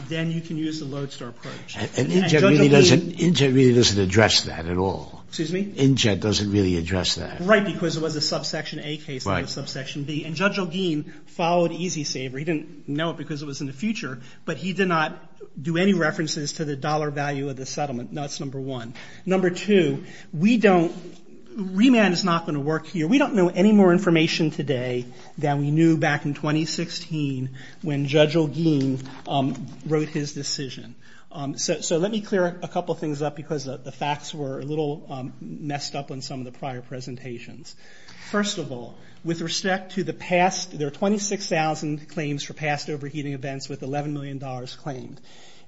then you can use the load start approach. And INGED really doesn't address that at all. Excuse me? INGED doesn't really address that. Right, because it was a subsection A case, not a subsection B. And Judge Elgin followed Easy Saver. He didn't know it because it was in the future, but he did not do any references to the dollar value of the settlement. That's number one. Number two, remand is not going to work here. We don't know any more information today than we knew back in 2016 when Judge Elgin wrote his decision. So let me clear a couple things up because the facts were a little messed up in some of the prior presentations. First of all, with respect to the past, there are 26,000 claims for past overheating events with $11 million claimed.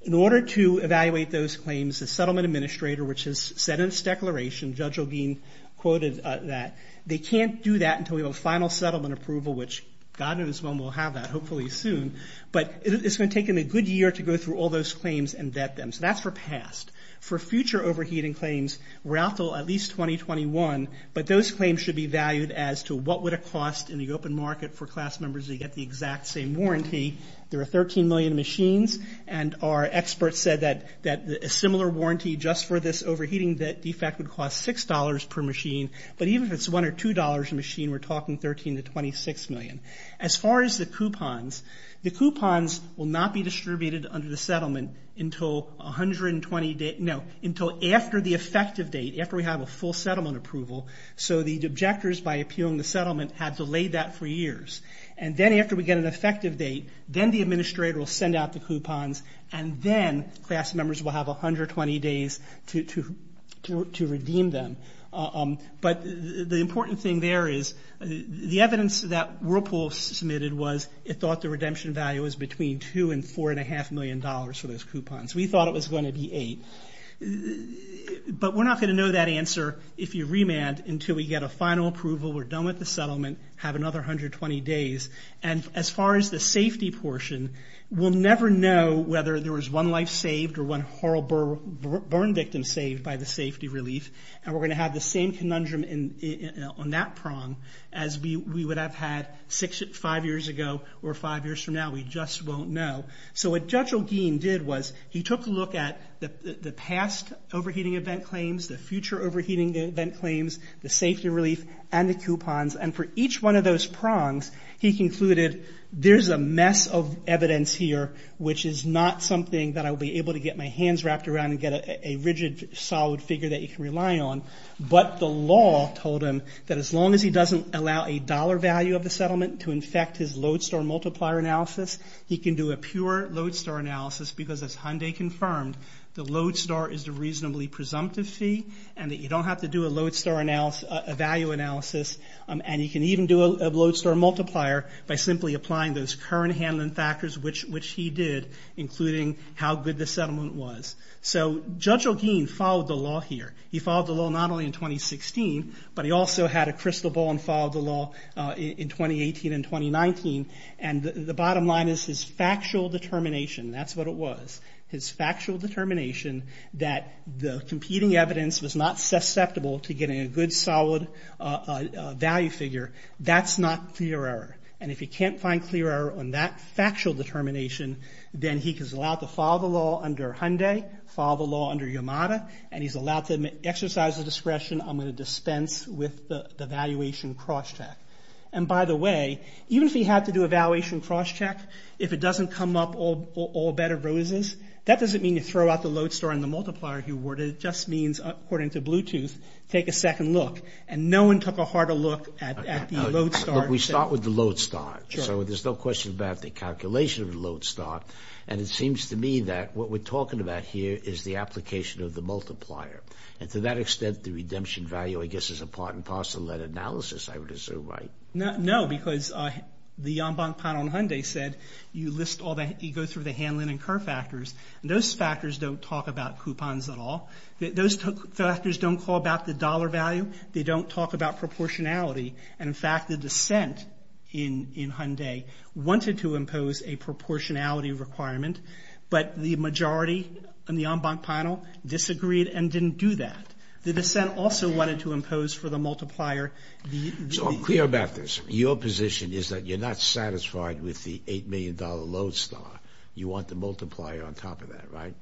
In order to evaluate those claims, the settlement administrator, which has said in its declaration, Judge Elgin quoted that, they can't do that until we have a final settlement approval, which God knows when we'll have that, hopefully soon. But it's going to take them a good year to go through all those claims and vet them. So that's for past. For future overheating claims, we're out until at least 2021, but those claims should be valued as to what would it cost in the open market for class members to get the exact same warranty. There are 13 million machines, and our experts said that a similar warranty just for this overheating defect would cost $6 per machine, but even if it's $1 or $2 a machine, we're talking $13 to $26 million. As far as the coupons, the coupons will not be distributed under the settlement until after the effective date, after we have a full settlement approval. So the objectors, by appealing the settlement, had delayed that for years. And then after we get an effective date, then the administrator will send out the coupons, and then class members will have 120 days to redeem them. But the important thing there is the evidence that Whirlpool submitted was it thought the redemption value was between $2 and $4.5 million for those coupons. We thought it was going to be $8. But we're not going to know that answer if you remand until we get a final approval, we're done with the settlement, have another 120 days. And as far as the safety portion, we'll never know whether there was one life saved or one horrible burn victim saved by the safety relief, and we're going to have the same conundrum on that prong as we would have had five years ago or five years from now. We just won't know. So what Judge O'Gean did was he took a look at the past overheating event claims, the future overheating event claims, the safety relief, and the coupons. And for each one of those prongs, he concluded there's a mess of evidence here which is not something that I'll be able to get my hands wrapped around and get a rigid, solid figure that you can rely on. But the law told him that as long as he doesn't allow a dollar value of the settlement to infect his lodestar multiplier analysis, he can do a pure lodestar analysis because as Hyundai confirmed, the lodestar is the reasonably presumptive fee and that you don't have to do a lodestar analysis, a value analysis, and you can even do a lodestar multiplier by simply applying those current handling factors which he did, including how good the settlement was. So Judge O'Gean followed the law here. He followed the law not only in 2016, but he also had a crystal ball and followed the law in 2018 and 2019. And the bottom line is his factual determination, that's what it was, his factual determination that the competing evidence was not susceptible to getting a good, solid value figure, that's not clear error. And if you can't find clear error on that factual determination, then he is allowed to follow the law under Hyundai, follow the law under Yamada, and he's allowed to exercise his discretion. I'm going to dispense with the valuation crosscheck. And by the way, even if he had to do a valuation crosscheck, if it doesn't come up all better roses, that doesn't mean you throw out the lodestar and the multiplier he awarded. It just means, according to Bluetooth, take a second look. And no one took a harder look at the lodestar. We start with the lodestar. So there's no question about the calculation of the lodestar. And it seems to me that what we're talking about here is the application of the multiplier. And to that extent, the redemption value, I guess, is a part and parcel of that analysis, I would assume, right? No, because the en banc panel in Hyundai said you go through the Hanlon and Kerr factors, and those factors don't talk about coupons at all. Those factors don't call about the dollar value. They don't talk about proportionality. And, in fact, the dissent in Hyundai wanted to impose a proportionality requirement, but the majority in the en banc panel disagreed and didn't do that. The dissent also wanted to impose for the multiplier... So I'm clear about this. Your position is that you're not satisfied with the $8 million lodestar. You want the multiplier on top of that, right?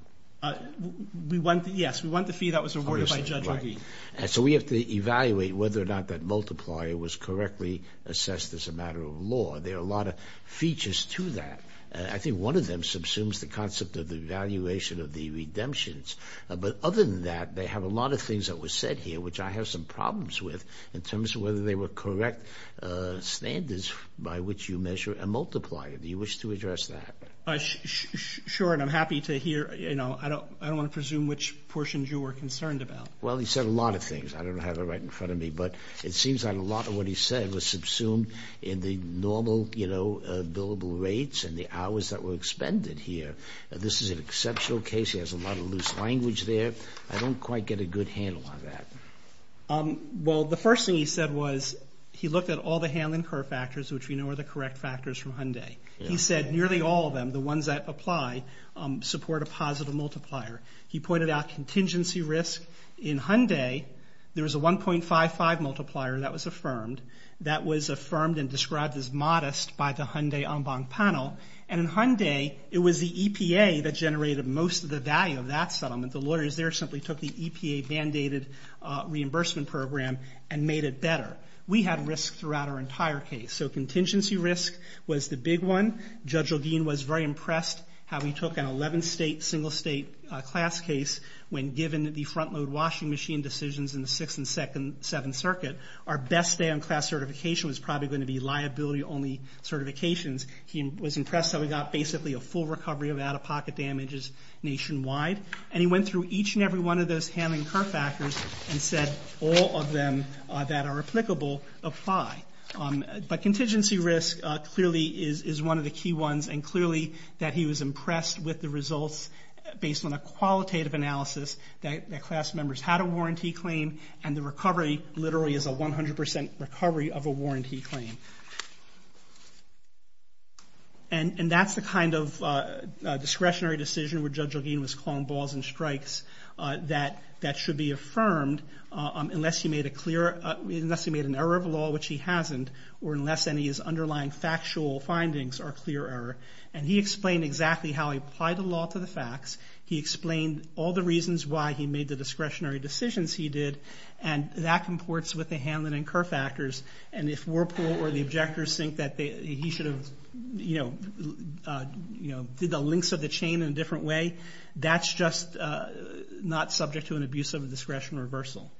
Yes, we want the fee that was awarded by Judge McGee. So we have to evaluate whether or not that multiplier was correctly assessed as a matter of law. There are a lot of features to that. I think one of them subsumes the concept of the evaluation of the redemptions. But other than that, they have a lot of things that were said here, which I have some problems with, in terms of whether they were correct standards by which you measure a multiplier. Do you wish to address that? Sure, and I'm happy to hear... you were concerned about. Well, he said a lot of things. I don't have it right in front of me, but it seems like a lot of what he said was subsumed in the normal billable rates and the hours that were expended here. This is an exceptional case. He has a lot of loose language there. I don't quite get a good handle on that. Well, the first thing he said was he looked at all the handling curve factors, which we know are the correct factors from Hyundai. He said nearly all of them, the ones that apply, support a positive multiplier. He pointed out contingency risk. In Hyundai, there was a 1.55 multiplier that was affirmed. That was affirmed and described as modest by the Hyundai Ombang panel. And in Hyundai, it was the EPA that generated most of the value of that settlement. The lawyers there simply took the EPA-bandaided reimbursement program and made it better. We had risk throughout our entire case. So contingency risk was the big one. Judge Ogin was very impressed how he took an 11-state, single-state class case when given the front-load washing machine decisions in the 6th and 7th Circuit. Our best day on class certification was probably going to be liability-only certifications. He was impressed that we got basically a full recovery of out-of-pocket damages nationwide. And he went through each and every one of those handling curve factors and said all of them that are applicable apply. But contingency risk clearly is one of the key ones and clearly that he was impressed with the results based on a qualitative analysis that class members had a warranty claim and the recovery literally is a 100% recovery of a warranty claim. And that's the kind of discretionary decision where Judge Ogin was calling balls and strikes that should be affirmed unless he made an error of law, which he hasn't, or unless any of his underlying factual findings are clear error. And he explained exactly how he applied the law to the facts. He explained all the reasons why he made the discretionary decisions he did. And that comports with the handling and curve factors. And if Whirlpool or the objectors think that he should have, you know, did the links of the chain in a different way, that's just not subject to an abuse of discretion reversal.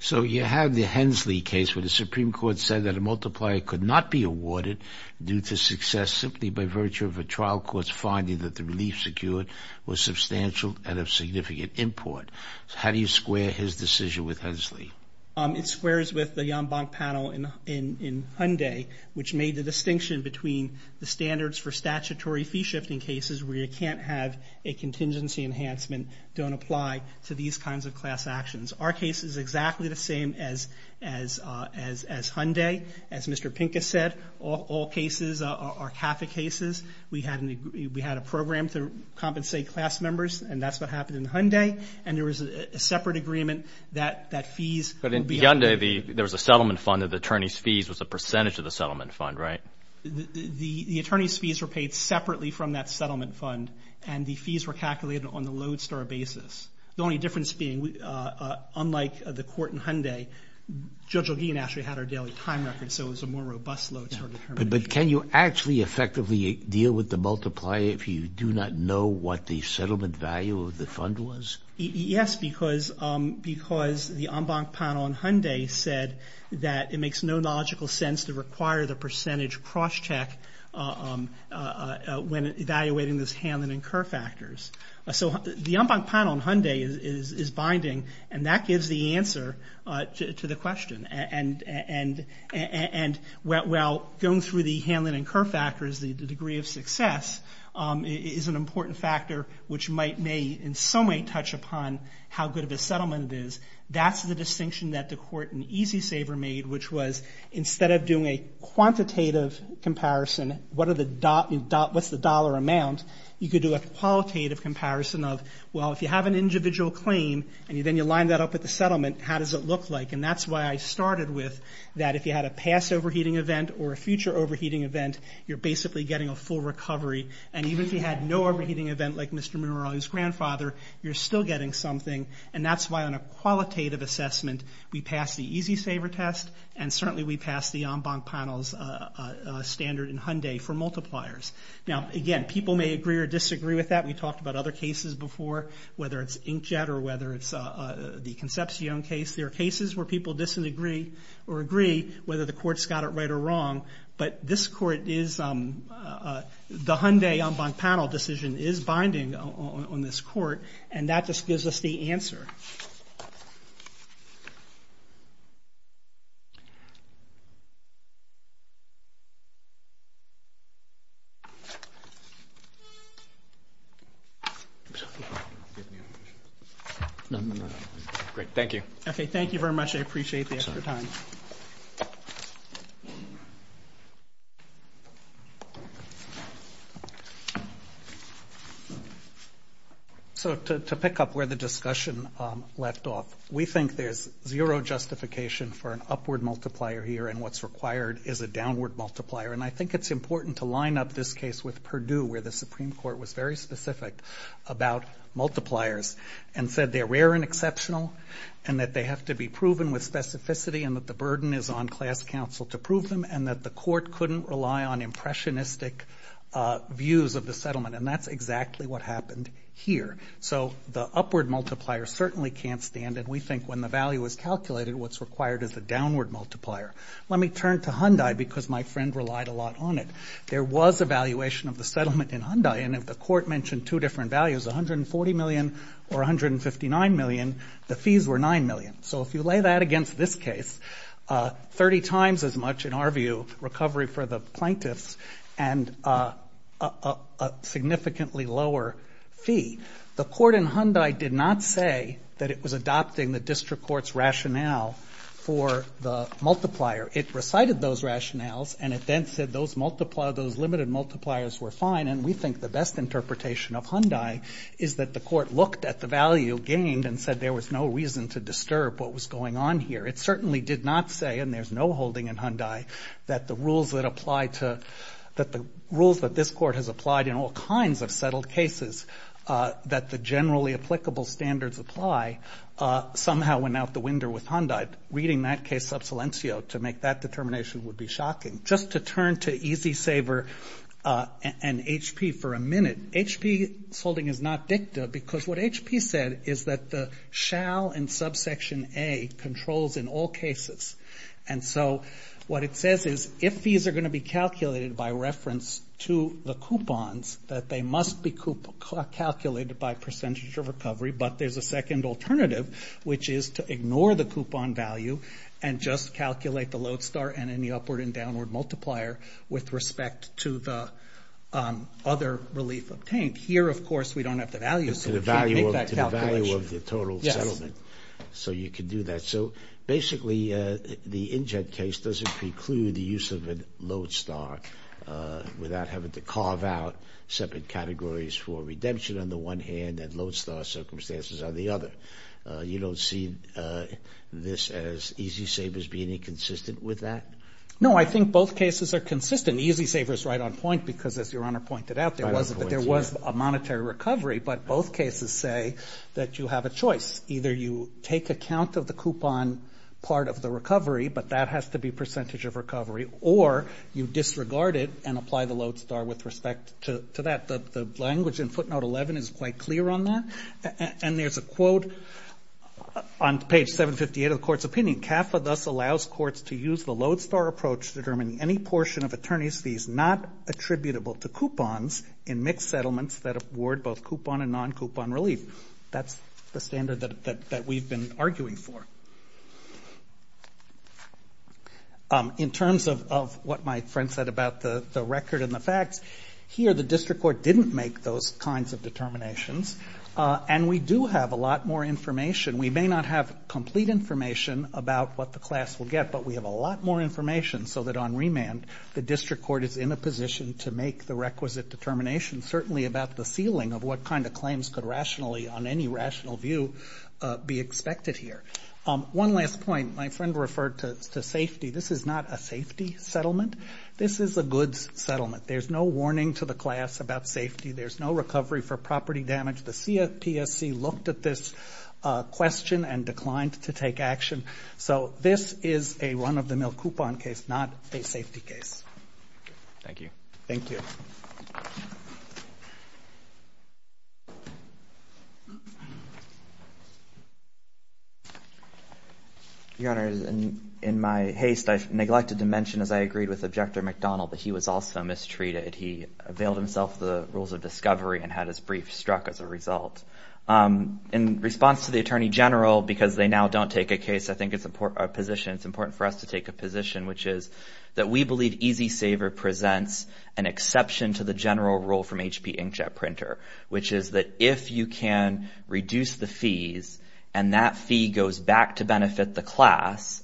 So you have the Hensley case where the Supreme Court said that a multiplier could not be awarded due to success simply by virtue of a trial court's finding that the relief secured was substantial and of significant import. How do you square his decision with Hensley? It squares with the Jambank panel in Hyundai, which made the distinction between the standards for statutory fee-shifting cases where you can't have a contingency enhancement don't apply to these kinds of class actions. Our case is exactly the same as Hyundai, as Mr. Pincus said, all cases are CAFA cases. We had a program to compensate class members, and that's what happened in Hyundai. And there was a separate agreement that fees... But in Hyundai, there was a settlement fund that the attorney's fees was a percentage of the settlement fund, right? The attorney's fees were paid separately from that settlement fund, and the fees were calculated on the Lodestar basis. The only difference being, unlike the court in Hyundai, Judge O'Geen actually had our daily time record, so it was a more robust load sort of determination. But can you actually effectively deal with the multiplier if you do not know what the settlement value of the fund was? Yes, because the Jambank panel in Hyundai said that it makes no logical sense to require the percentage cross-check when evaluating this Hanlon and Kerr factors. So the Jambank panel in Hyundai is binding, and that gives the answer to the question. And, well, going through the Hanlon and Kerr factors, the degree of success, is an important factor which may in some way touch upon how good of a settlement it is. That's the distinction that the court in EasySaver made, which was instead of doing a quantitative comparison, what's the dollar amount, you could do a qualitative comparison of, well, if you have an individual claim and then you line that up with the settlement, how does it look like? And that's why I started with that if you had a past overheating event or a future overheating event, you're basically getting a full recovery. And even if you had no overheating event like Mr. Munro, his grandfather, you're still getting something, and that's why on a qualitative assessment we passed the EasySaver test, and certainly we passed the Jambank panel's standard in Hyundai for multipliers. Now, again, people may agree or disagree with that. We talked about other cases before, whether it's Inkjet or whether it's the Concepcion case. There are cases where people disagree or agree whether the court's got it right or wrong, but this court is... the Hyundai Jambank panel decision is binding on this court, and that just gives us the answer. Great, thank you. Okay, thank you very much. I appreciate the extra time. So to pick up where the discussion left off, we think there's zero justification for an upward multiplier here, and what's required is a downward multiplier, and I think it's important to line up this case with Purdue where the Supreme Court was very specific about multipliers and said they're rare and exceptional and that they have to be proven with specificity and that the burden is on class counsel to prove them and that the court couldn't rely on impressionistic views of the settlement, and that's exactly what happened here. So the upward multiplier certainly can't stand, and we think when the value is calculated, what's required is a downward multiplier. Let me turn to Hyundai because my friend relied a lot on it. There was a valuation of the settlement in Hyundai, and if the court mentioned two different values, $140 million or $159 million, the fees were $9 million. So if you lay that against this case, 30 times as much, in our view, recovery for the plaintiffs and a significantly lower fee. The court in Hyundai did not say that it was adopting the district court's rationale for the multiplier. It recited those rationales, and it then said those limited multipliers were fine, and we think the best interpretation of Hyundai is that the court looked at the value gained and said there was no reason to disturb what was going on here. It certainly did not say, and there's no holding in Hyundai, that the rules that this court has applied in all kinds of settled cases that the generally applicable standards apply somehow went out the window with Hyundai. Reading that case sub silencio to make that determination would be shocking. Just to turn to E-Z-Saver and HP for a minute, HP's holding is not dicta because what HP said is that the shall in subsection A controls in all cases. And so what it says is if fees are going to be calculated by reference to the coupons, that they must be calculated by percentage of recovery, but there's a second alternative, which is to ignore the coupon value and just calculate the load star and any upward and downward multiplier with respect to the other relief obtained. Here, of course, we don't have the value, so we can't make that calculation. To the value of the total settlement. Yes. So you can do that. So basically the InJet case doesn't preclude the use of a load star without having to carve out separate categories for redemption on the one hand and load star circumstances on the other. You don't see this as E-Z-Saver being inconsistent with that? No, I think both cases are consistent. E-Z-Saver is right on point because as Your Honor pointed out, there was a monetary recovery, but both cases say that you have a choice. Either you take account of the coupon part of the recovery, but that has to be percentage of recovery, or you disregard it and apply the load star with respect to that. The language in footnote 11 is quite clear on that. And there's a quote on page 758 of the court's opinion, CAFA thus allows courts to use the load star approach to determine any portion of attorney's fees not attributable to coupons in mixed settlements that award both coupon and non-coupon relief. That's the standard that we've been arguing for. In terms of what my friend said about the record and the facts, here the district court didn't make those kinds of determinations, and we do have a lot more information. We may not have complete information about what the class will get, but we have a lot more information so that on remand the district court is in a position to make the requisite determination, certainly about the ceiling of what kind of claims could rationally, on any rational view, be expected here. One last point. My friend referred to safety. This is not a safety settlement. This is a goods settlement. There's no warning to the class about safety. There's no recovery for property damage. The CPSC looked at this question and declined to take action. So this is a run-of-the-mill coupon case, not a safety case. Thank you. Thank you. Your Honor, in my haste I neglected to mention, as I agreed with Objector McDonald, that he was also mistreated. He availed himself of the rules of discovery and had his brief struck as a result. In response to the Attorney General, because they now don't take a case, I think it's important for us to take a position, which is that we believe EasySaver presents an exception to the general rule from HP Inkjet Printer, which is that if you can reduce the fees and that fee goes back to benefit the class,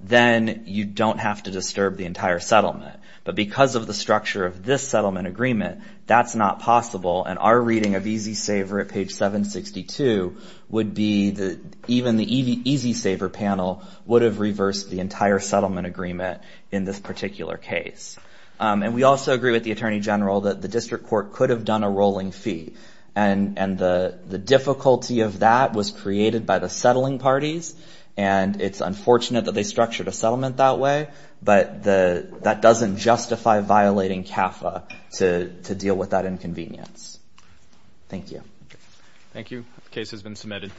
then you don't have to disturb the entire settlement. But because of the structure of this settlement agreement, that's not possible. And our reading of EasySaver at page 762 would be that even the EasySaver panel would have reversed the entire settlement agreement in this particular case. And we also agree with the Attorney General that the district court could have done a rolling fee. And the difficulty of that was created by the settling parties, and it's unfortunate that they structured a settlement that way. But that doesn't justify violating CAFA to deal with that inconvenience. Thank you. Thank you. The case has been submitted.